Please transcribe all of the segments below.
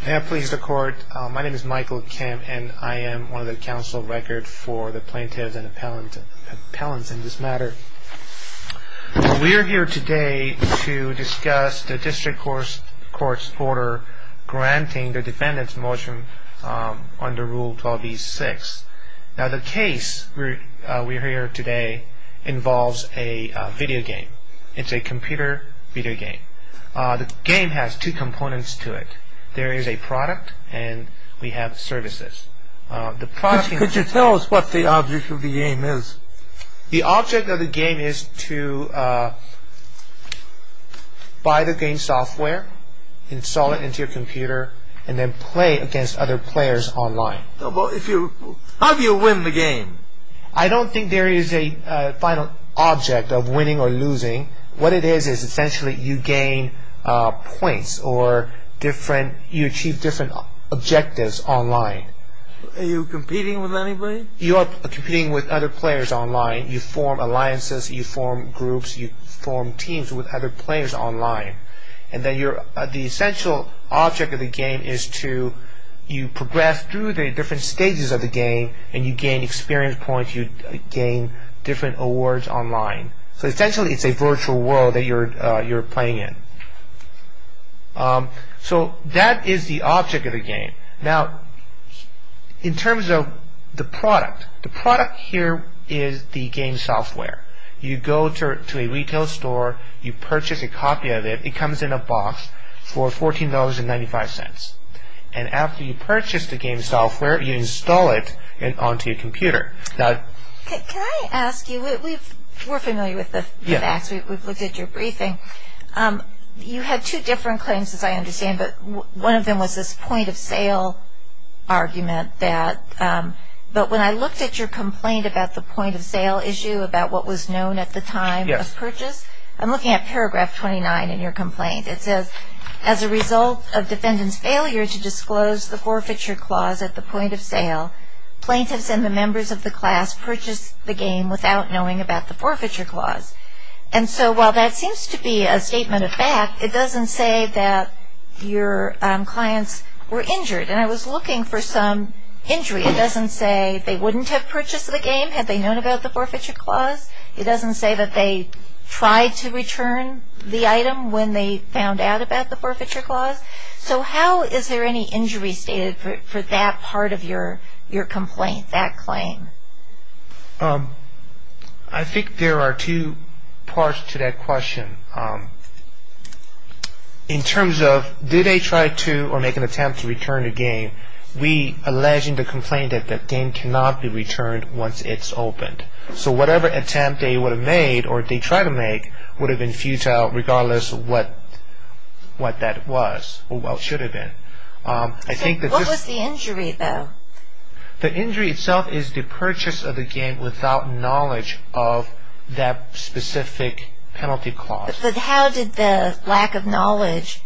I have pleased the court. My name is Michael Kim, and I am one of the counsel records for the plaintiffs and appellants in this matter. We are here today to discuss the District Court's order granting the defendant's motion under Rule 12b-6. Now the case we're here today involves a video game. It's a computer video game. The game has two components to it. There is a product, and we have services. Could you tell us what the object of the game is? The object of the game is to buy the game software, install it into your computer, and then play against other players online. How do you win the game? I don't think there is a final object of winning or losing. What it is, is essentially you gain points, or you achieve different objectives online. Are you competing with anybody? You are competing with other players online. You form alliances, you form groups, you form teams with other players online. The essential object of the game is to progress through the different stages of the game, and you gain experience points, you gain different awards online. So essentially it's a virtual world that you're playing in. So that is the object of the game. Now in terms of the product, the product here is the game software. You go to a retail store, you purchase a copy of it, it comes in a box for $14.95. And after you purchase the game software, you install it onto your computer. Can I ask you, we're familiar with the facts, we've looked at your briefing. You had two different claims as I understand, but one of them was this point of sale argument. But when I looked at your complaint about the point of sale issue, about what was known at the time of purchase, I'm looking at paragraph 29 in your complaint. It says, as a result of defendant's failure to disclose the forfeiture clause at the point of sale, plaintiffs and the members of the class purchased the game without knowing about the forfeiture clause. And so while that seems to be a statement of fact, it doesn't say that your clients were injured. And I was looking for some injury. It doesn't say they wouldn't have purchased the game had they known about the forfeiture clause. It doesn't say that they tried to return the item when they found out about the forfeiture clause. So how is there any injury stated for that part of your complaint, that claim? I think there are two parts to that question. In terms of did they try to or make an attempt to return the game, we allege in the complaint that the game cannot be returned once it's opened. So whatever attempt they would have made or they tried to make would have been futile, regardless of what that was or should have been. What was the injury, though? The injury itself is the purchase of the game without knowledge of that specific penalty clause. But how did the lack of knowledge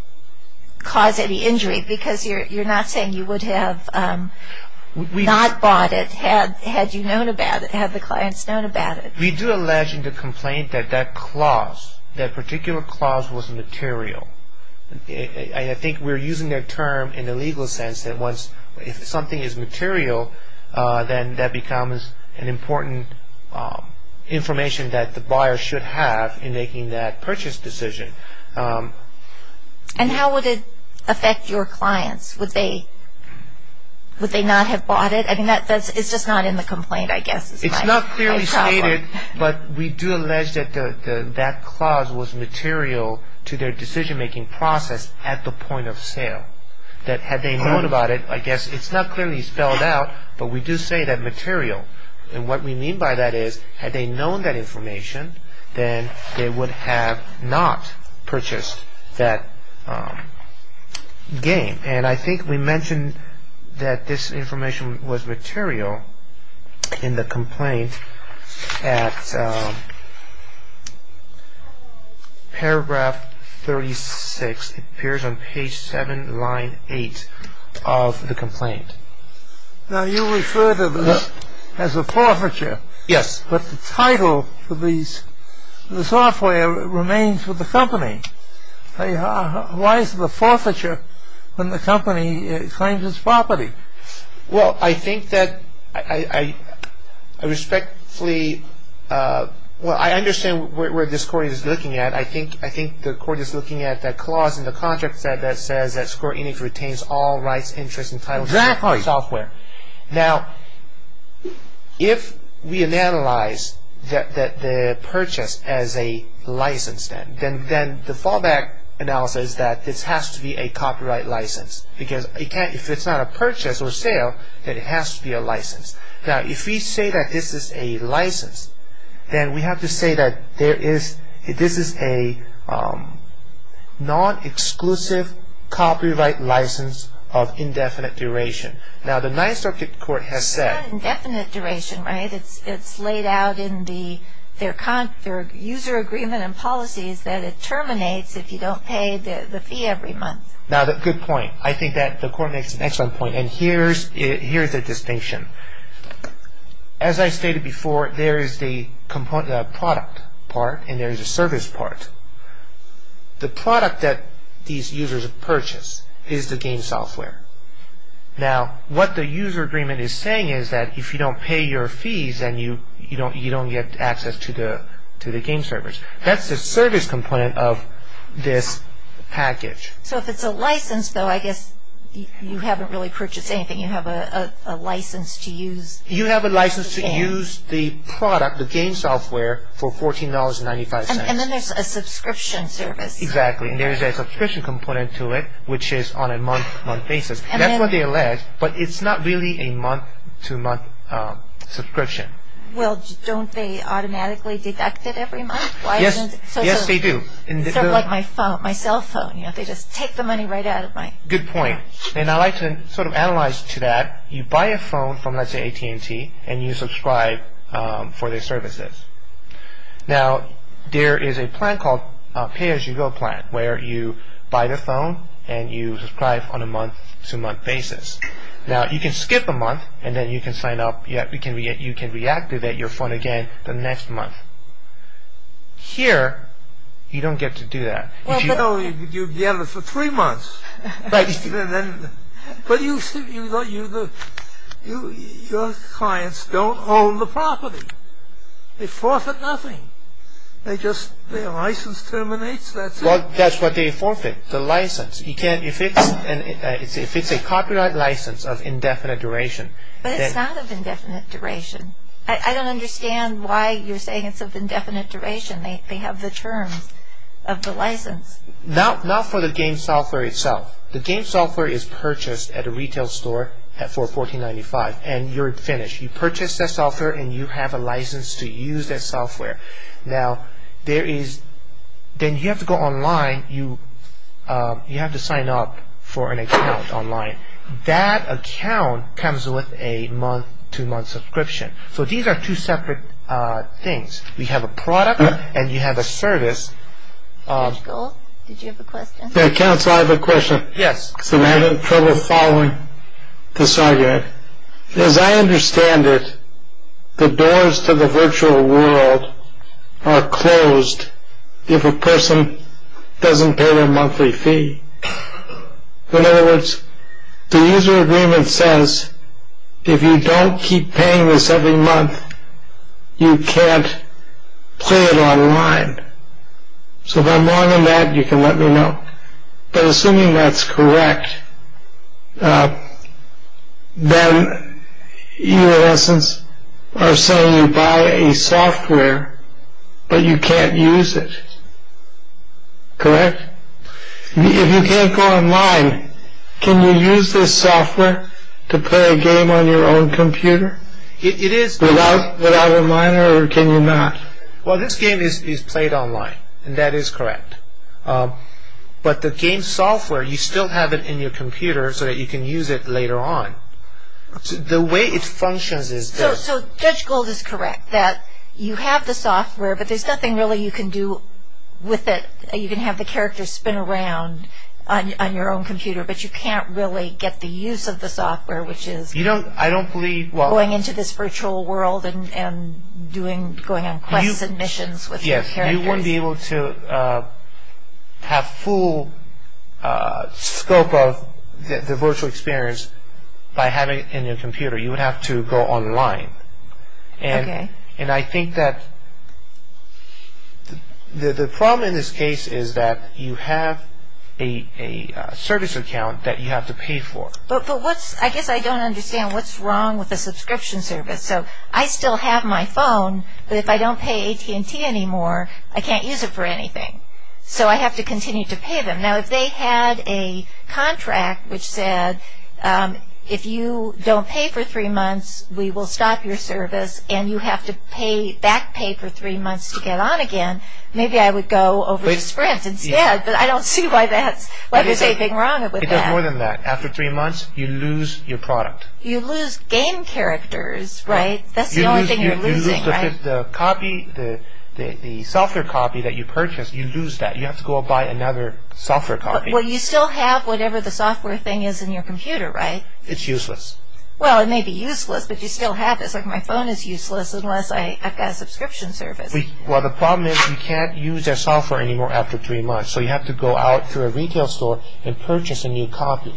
cause any injury? Because you're not saying you would have not bought it had you known about it, had the clients known about it. We do allege in the complaint that that clause, that particular clause, was material. I think we're using that term in the legal sense that once something is material, then that becomes an important information that the buyer should have in making that purchase decision. And how would it affect your clients? Would they not have bought it? I mean, it's just not in the complaint, I guess. It's not clearly stated, but we do allege that that clause was material to their decision-making process at the point of sale. That had they known about it, I guess it's not clearly spelled out, but we do say that material. And what we mean by that is had they known that information, then they would have not purchased that game. And I think we mentioned that this information was material in the complaint at paragraph 36. It appears on page 7, line 8 of the complaint. Now, you refer to this as a forfeiture. Yes. But the title for these, the software remains with the company. Why is it a forfeiture when the company claims its property? Well, I think that I respectfully, well, I understand where this Court is looking at. I think the Court is looking at that clause in the contract that says that Square Enix retains all rights, interests, and titles of the software. Exactly. Now, if we analyze the purchase as a license then, then the fallback analysis is that this has to be a copyright license. Because if it's not a purchase or sale, then it has to be a license. Now, if we say that this is a license, then we have to say that this is a non-exclusive copyright license of indefinite duration. Now, the Ninth Circuit Court has said. It's not indefinite duration, right? It's laid out in their user agreement and policies that it terminates if you don't pay the fee every month. Now, good point. I think that the Court makes an excellent point. And here's the distinction. As I stated before, there is the product part and there is a service part. The product that these users purchase is the game software. Now, what the user agreement is saying is that if you don't pay your fees, then you don't get access to the game servers. That's the service component of this package. So, if it's a license, though, I guess you haven't really purchased anything. You have a license to use the game. You have a license to use the product, the game software, for $14.95. And then there's a subscription service. Exactly. And there's a subscription component to it, which is on a month-to-month basis. That's what they allege, but it's not really a month-to-month subscription. Well, don't they automatically deduct it every month? Yes, they do. Sort of like my cell phone. They just take the money right out of my phone. Good point. And I like to sort of analyze to that. You buy a phone from, let's say, AT&T, and you subscribe for their services. Now, there is a plan called a pay-as-you-go plan, where you buy the phone and you subscribe on a month-to-month basis. Now, you can skip a month, and then you can sign up. You can reactivate your phone again the next month. Here, you don't get to do that. Well, no, you get it for three months. But your clients don't own the property. They forfeit nothing. Their license terminates, that's it. Well, that's what they forfeit, the license. If it's a copyright license of indefinite duration. But it's not of indefinite duration. I don't understand why you're saying it's of indefinite duration. They have the terms of the license. Not for the game software itself. The game software is purchased at a retail store for $14.95, and you're finished. You purchase that software, and you have a license to use that software. Now, then you have to go online. You have to sign up for an account online. That account comes with a month-to-month subscription. So these are two separate things. You have a product, and you have a service. Council, did you have a question? Council, I have a question. Yes. I'm having trouble following this argument. As I understand it, the doors to the virtual world are closed if a person doesn't pay their monthly fee. In other words, the user agreement says if you don't keep paying this every month, you can't play it online. So if I'm wrong on that, you can let me know. But assuming that's correct, then you, in essence, are saying you buy a software, but you can't use it. Correct? If you can't go online, can you use this software to play a game on your own computer? It is. Without a monitor, or can you not? Well, this game is played online, and that is correct. But the game software, you still have it in your computer so that you can use it later on. The way it functions is this. So Judge Gold is correct, that you have the software, but there's nothing really you can do with it. You can have the character spin around on your own computer, but you can't really get the use of the software, which is… Going into this virtual world and going on quests and missions with your characters. Yes, you wouldn't be able to have full scope of the virtual experience by having it in your computer. You would have to go online. And I think that the problem in this case is that you have a service account that you have to pay for. But I guess I don't understand what's wrong with the subscription service. So I still have my phone, but if I don't pay AT&T anymore, I can't use it for anything. So I have to continue to pay them. Now, if they had a contract which said, if you don't pay for three months, we will stop your service, and you have to back pay for three months to get on again, maybe I would go over to Sprint instead. But I don't see why there's anything wrong with that. It does more than that. After three months, you lose your product. You lose game characters, right? That's the only thing you're losing, right? You lose the software copy that you purchased. You lose that. You have to go buy another software copy. Well, you still have whatever the software thing is in your computer, right? It's useless. Well, it may be useless, but you still have it. It's like my phone is useless unless I've got a subscription service. Well, the problem is you can't use their software anymore after three months. So you have to go out to a retail store and purchase a new copy.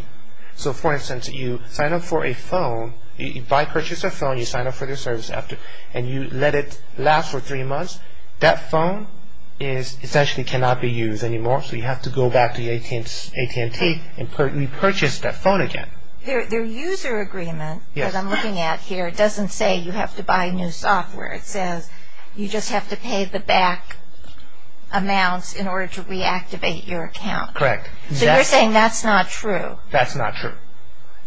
So, for instance, you sign up for a phone. If I purchase a phone, you sign up for their service after, and you let it last for three months. That phone essentially cannot be used anymore, so you have to go back to the AT&T and repurchase that phone again. Their user agreement that I'm looking at here doesn't say you have to buy new software. It says you just have to pay the back amounts in order to reactivate your account. Correct. So you're saying that's not true. That's not true.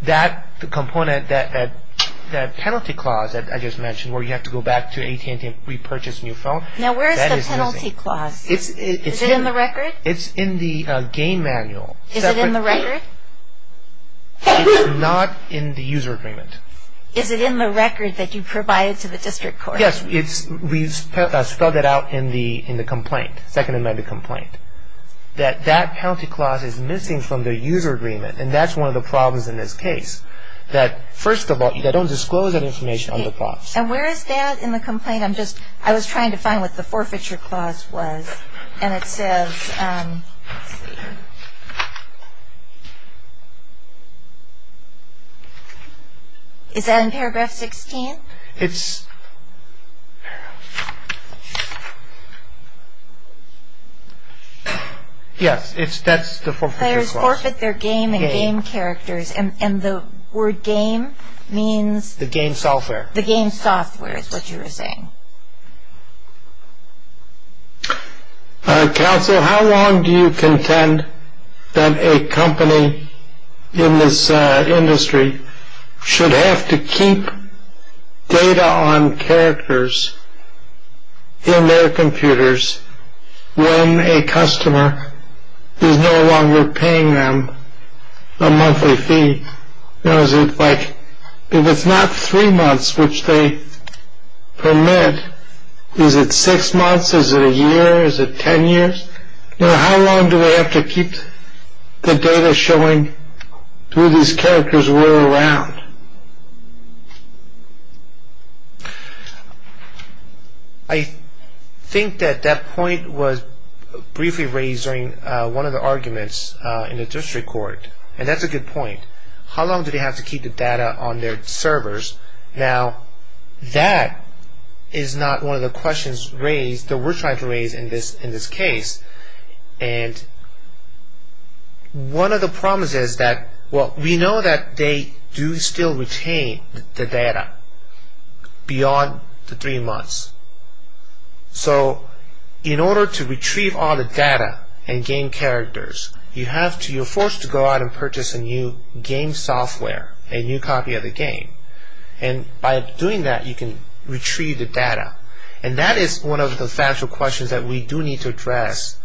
That component, that penalty clause that I just mentioned, where you have to go back to AT&T and repurchase a new phone, that is missing. Now, where is the penalty clause? Is it in the record? It's in the game manual. Is it in the record? It's not in the user agreement. Is it in the record that you provided to the district court? Yes. We spelled that out in the complaint, Second Amendment complaint, that that penalty clause is missing from the user agreement, and that's one of the problems in this case, that, first of all, they don't disclose that information on the clause. And where is that in the complaint? I think I'm just – I was trying to find what the forfeiture clause was, and it says – let's see. Is that in paragraph 16? It's – yes, that's the forfeiture clause. Players forfeit their game and game characters, and the word game means – The game software. The game software is what you were saying. Counsel, how long do you contend that a company in this industry should have to keep data on characters in their computers when a customer is no longer paying them a monthly fee? You know, is it like – if it's not three months, which they permit, is it six months, is it a year, is it ten years? You know, how long do they have to keep the data showing who these characters were around? I think that that point was briefly raised during one of the arguments in the district court, and that's a good point. How long do they have to keep the data on their servers? Now, that is not one of the questions raised – that we're trying to raise in this case. And one of the problems is that – well, we know that they do still retain the data beyond the three months. So, in order to retrieve all the data and game characters, you have to – you're forced to go out and purchase a new game software, a new copy of the game. And by doing that, you can retrieve the data. And that is one of the factual questions that we do need to address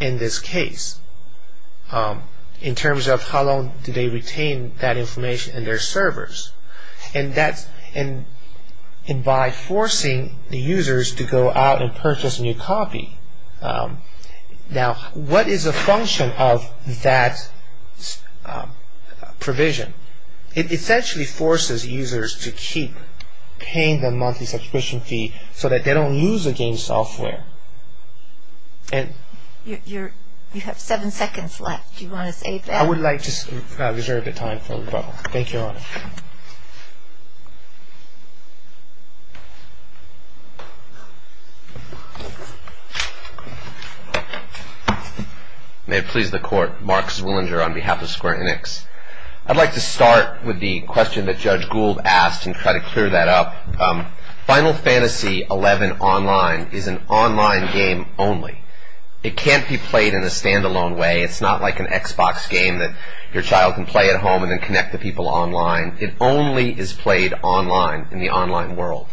in this case, in terms of how long do they retain that information in their servers. And that's – and by forcing the users to go out and purchase a new copy. Now, what is a function of that provision? It essentially forces users to keep paying the monthly subscription fee so that they don't lose the game software. You have seven seconds left. Do you want to say that? I would like to reserve the time for rebuttal. Thank you, Your Honor. May it please the Court. Mark Zwillinger on behalf of Square Enix. I'd like to start with the question that Judge Gould asked and try to clear that up. Final Fantasy XI Online is an online game only. It can't be played in a standalone way. It's not like an Xbox game that your child can play at home and then connect to people online. It only is played online in the online world.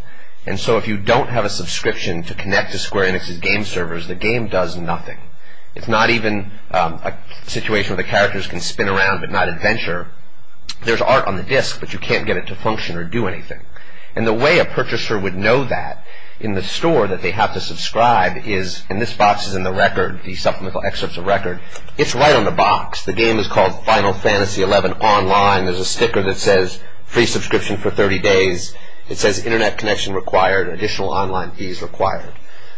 And so if you don't have a subscription to connect to Square Enix's game servers, the game does nothing. It's not even a situation where the characters can spin around but not adventure. There's art on the disc, but you can't get it to function or do anything. And the way a purchaser would know that in the store that they have to subscribe is – the supplemental excerpts of record – it's right on the box. The game is called Final Fantasy XI Online. There's a sticker that says free subscription for 30 days. It says internet connection required, additional online fees required.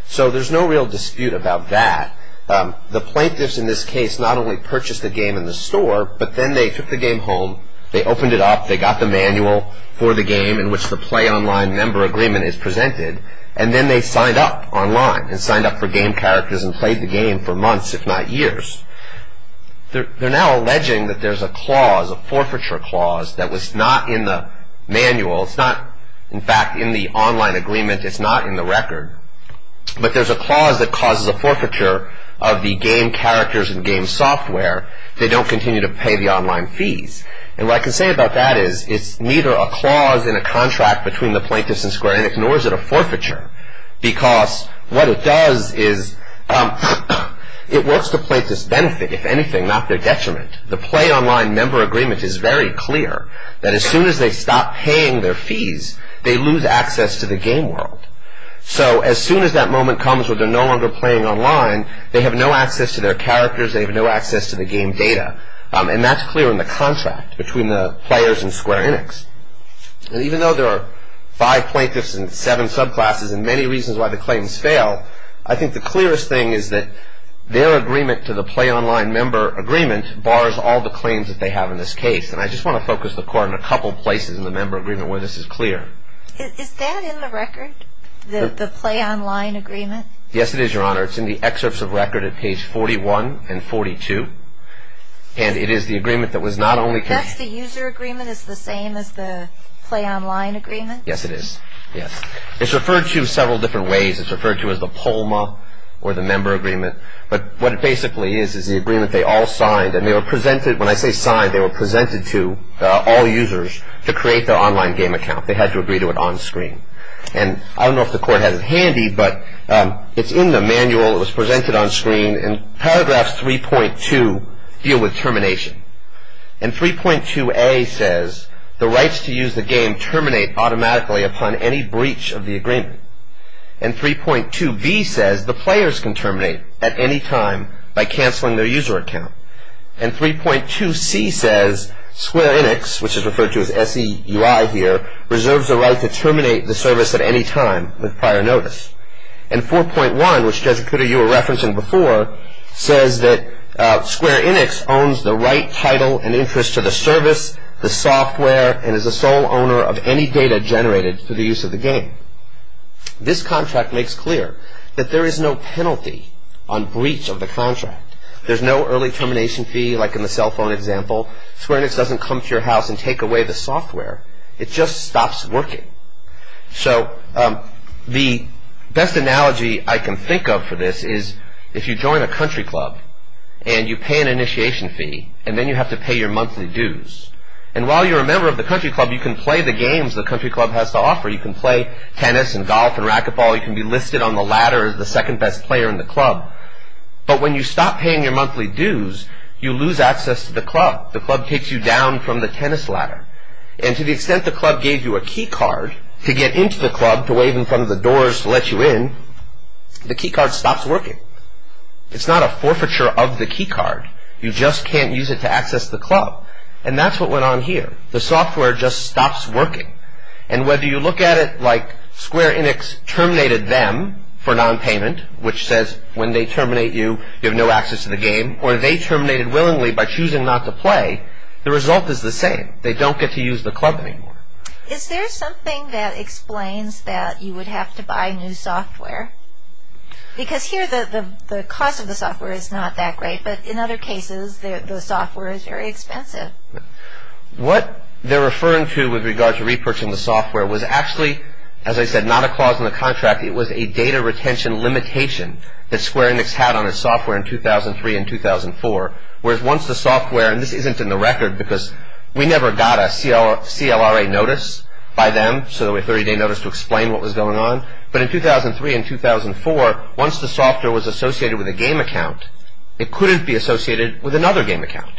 So there's no real dispute about that. The plaintiffs in this case not only purchased the game in the store, but then they took the game home, they opened it up, they got the manual for the game in which the play online member agreement is presented, and then they signed up online and signed up for game characters and played the game for months, if not years. They're now alleging that there's a clause, a forfeiture clause, that was not in the manual. It's not, in fact, in the online agreement. It's not in the record. But there's a clause that causes a forfeiture of the game characters and game software if they don't continue to pay the online fees. And what I can say about that is it's neither a clause in a contract between the plaintiffs and Square Enix nor is it a forfeiture because what it does is it works to plaintiffs' benefit, if anything, not their detriment. The play online member agreement is very clear that as soon as they stop paying their fees, they lose access to the game world. So as soon as that moment comes where they're no longer playing online, they have no access to their characters, they have no access to the game data. And that's clear in the contract between the players and Square Enix. And even though there are five plaintiffs and seven subclasses and many reasons why the claims fail, I think the clearest thing is that their agreement to the play online member agreement bars all the claims that they have in this case. And I just want to focus the court on a couple of places in the member agreement where this is clear. Is that in the record, the play online agreement? Yes, it is, Your Honor. It's in the excerpts of record at page 41 and 42. And it is the agreement that was not only... Perhaps the user agreement is the same as the play online agreement? Yes, it is. Yes. It's referred to several different ways. It's referred to as the POMA or the member agreement. But what it basically is is the agreement they all signed. And they were presented, when I say signed, they were presented to all users to create their online game account. They had to agree to it on screen. And I don't know if the court had it handy, but it's in the manual. It was presented on screen. And paragraphs 3.2 deal with termination. And 3.2A says the rights to use the game terminate automatically upon any breach of the agreement. And 3.2B says the players can terminate at any time by canceling their user account. And 3.2C says Square Enix, which is referred to as SEUI here, reserves the right to terminate the service at any time with prior notice. And 4.1, which, Jessica, you were referencing before, says that Square Enix owns the right title and interest to the service, the software, and is the sole owner of any data generated for the use of the game. This contract makes clear that there is no penalty on breach of the contract. There's no early termination fee, like in the cell phone example. Square Enix doesn't come to your house and take away the software. It just stops working. So the best analogy I can think of for this is if you join a country club and you pay an initiation fee and then you have to pay your monthly dues. And while you're a member of the country club, you can play the games the country club has to offer. You can play tennis and golf and racquetball. You can be listed on the ladder as the second best player in the club. But when you stop paying your monthly dues, you lose access to the club. The club takes you down from the tennis ladder. And to the extent the club gave you a key card to get into the club, to wave in front of the doors to let you in, the key card stops working. It's not a forfeiture of the key card. You just can't use it to access the club. And that's what went on here. The software just stops working. And whether you look at it like Square Enix terminated them for nonpayment, which says when they terminate you, you have no access to the game, or they terminated willingly by choosing not to play, the result is the same. They don't get to use the club anymore. Is there something that explains that you would have to buy new software? Because here the cost of the software is not that great. But in other cases, the software is very expensive. What they're referring to with regard to repurchasing the software was actually, as I said, not a clause in the contract. It was a data retention limitation that Square Enix had on its software in 2003 and 2004. Whereas once the software, and this isn't in the record because we never got a CLRA notice by them, so a 30-day notice to explain what was going on. But in 2003 and 2004, once the software was associated with a game account, it couldn't be associated with another game account.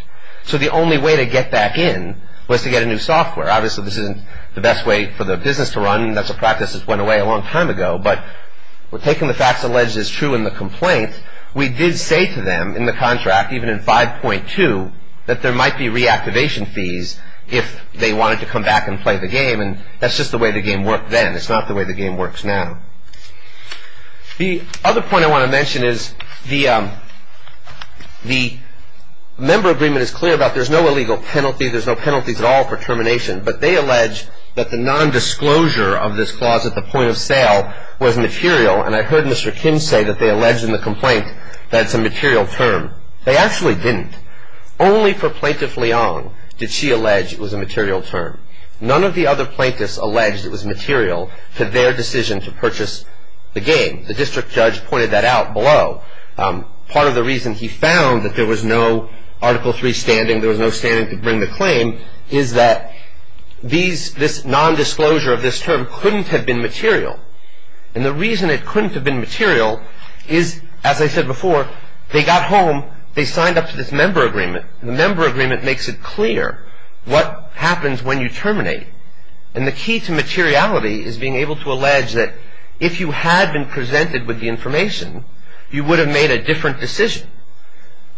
So the only way to get back in was to get a new software. Obviously, this isn't the best way for the business to run. That's a practice that went away a long time ago. But taking the facts alleged as true in the complaint, we did say to them in the contract, even in 5.2, that there might be reactivation fees if they wanted to come back and play the game. And that's just the way the game worked then. It's not the way the game works now. The other point I want to mention is the member agreement is clear about there's no illegal penalty. There's no penalties at all for termination. But they allege that the nondisclosure of this clause at the point of sale was material. And I heard Mr. Kim say that they allege in the complaint that it's a material term. They actually didn't. Only for Plaintiff Leong did she allege it was a material term. None of the other plaintiffs alleged it was material to their decision to purchase the game. The district judge pointed that out below. Part of the reason he found that there was no Article III standing, there was no standing to bring the claim, is that this nondisclosure of this term couldn't have been material. And the reason it couldn't have been material is, as I said before, they got home, they signed up to this member agreement. The member agreement makes it clear what happens when you terminate. And the key to materiality is being able to allege that if you had been presented with the information, you would have made a different decision.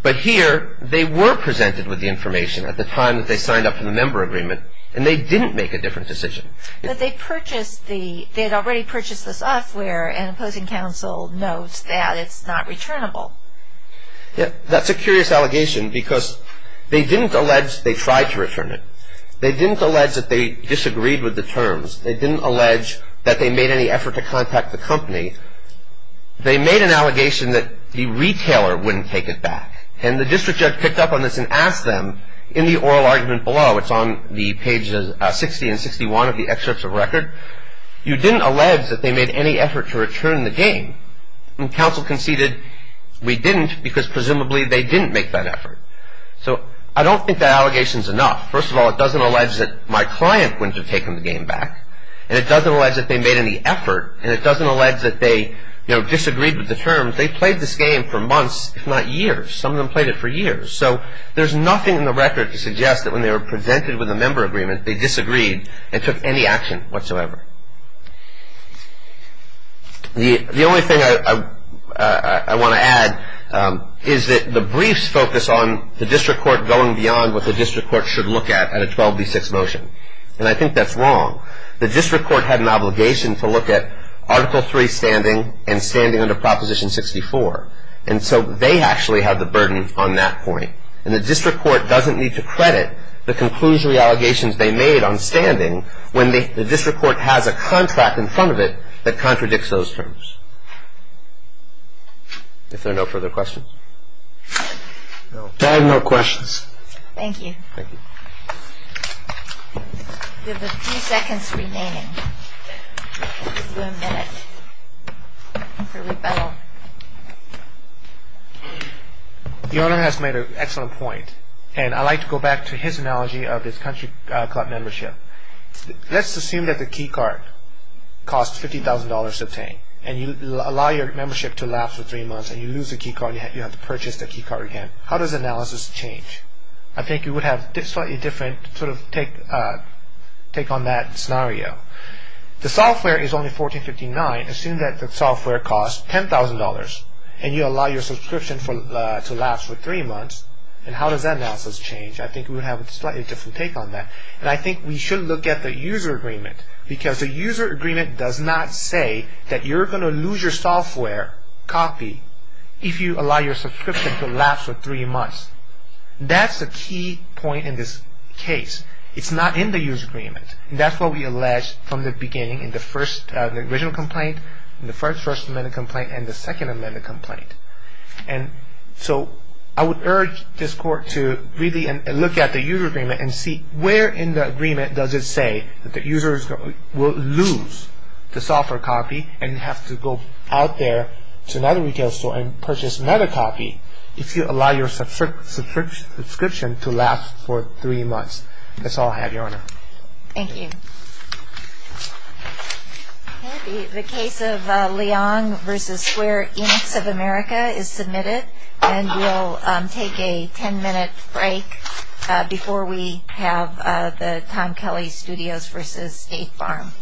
But here they were presented with the information at the time that they signed up for the member agreement and they didn't make a different decision. But they had already purchased the software and opposing counsel notes that it's not returnable. That's a curious allegation because they didn't allege they tried to return it. They didn't allege that they disagreed with the terms. They didn't allege that they made any effort to contact the company. They made an allegation that the retailer wouldn't take it back. And the district judge picked up on this and asked them in the oral argument below, it's on the pages 60 and 61 of the excerpts of record, you didn't allege that they made any effort to return the game. And counsel conceded we didn't because presumably they didn't make that effort. So I don't think that allegation is enough. First of all, it doesn't allege that my client wouldn't have taken the game back. And it doesn't allege that they made any effort. And it doesn't allege that they disagreed with the terms. They played this game for months, if not years. Some of them played it for years. So there's nothing in the record to suggest that when they were presented with a member agreement, they disagreed and took any action whatsoever. The only thing I want to add is that the briefs focus on the district court going beyond what the district court should look at at a 12b6 motion. And I think that's wrong. The district court had an obligation to look at Article III standing and standing under Proposition 64. And so they actually had the burden on that point. And the district court doesn't need to credit the conclusionary allegations they made on standing when the district court has a contract in front of it that contradicts those terms. Are there no further questions? I have no questions. Thank you. Thank you. We have a few seconds remaining. We'll do a minute for rebuttal. Your Honor has made an excellent point. And I'd like to go back to his analogy of this country club membership. Let's assume that the key card costs $50,000 to obtain, and you allow your membership to last for three months, and you lose the key card and you have to purchase the key card again. How does the analysis change? I think you would have a slightly different sort of take on that scenario. The software is only $1,459. Assume that the software costs $10,000, and you allow your subscription to last for three months. And how does that analysis change? I think we would have a slightly different take on that. And I think we should look at the user agreement, because the user agreement does not say that you're going to lose your software copy if you allow your subscription to last for three months. That's the key point in this case. It's not in the user agreement. And that's what we alleged from the beginning in the original complaint, in the First Amendment complaint, and the Second Amendment complaint. And so I would urge this Court to really look at the user agreement and see where in the agreement does it say that the user will lose the software copy and have to go out there to another retail store and purchase another copy if you allow your subscription to last for three months. That's all I have, Your Honor. Thank you. The case of Leong v. Square Enix of America is submitted. And we'll take a 10-minute break before we have the Tom Kelly Studios v. State Farm.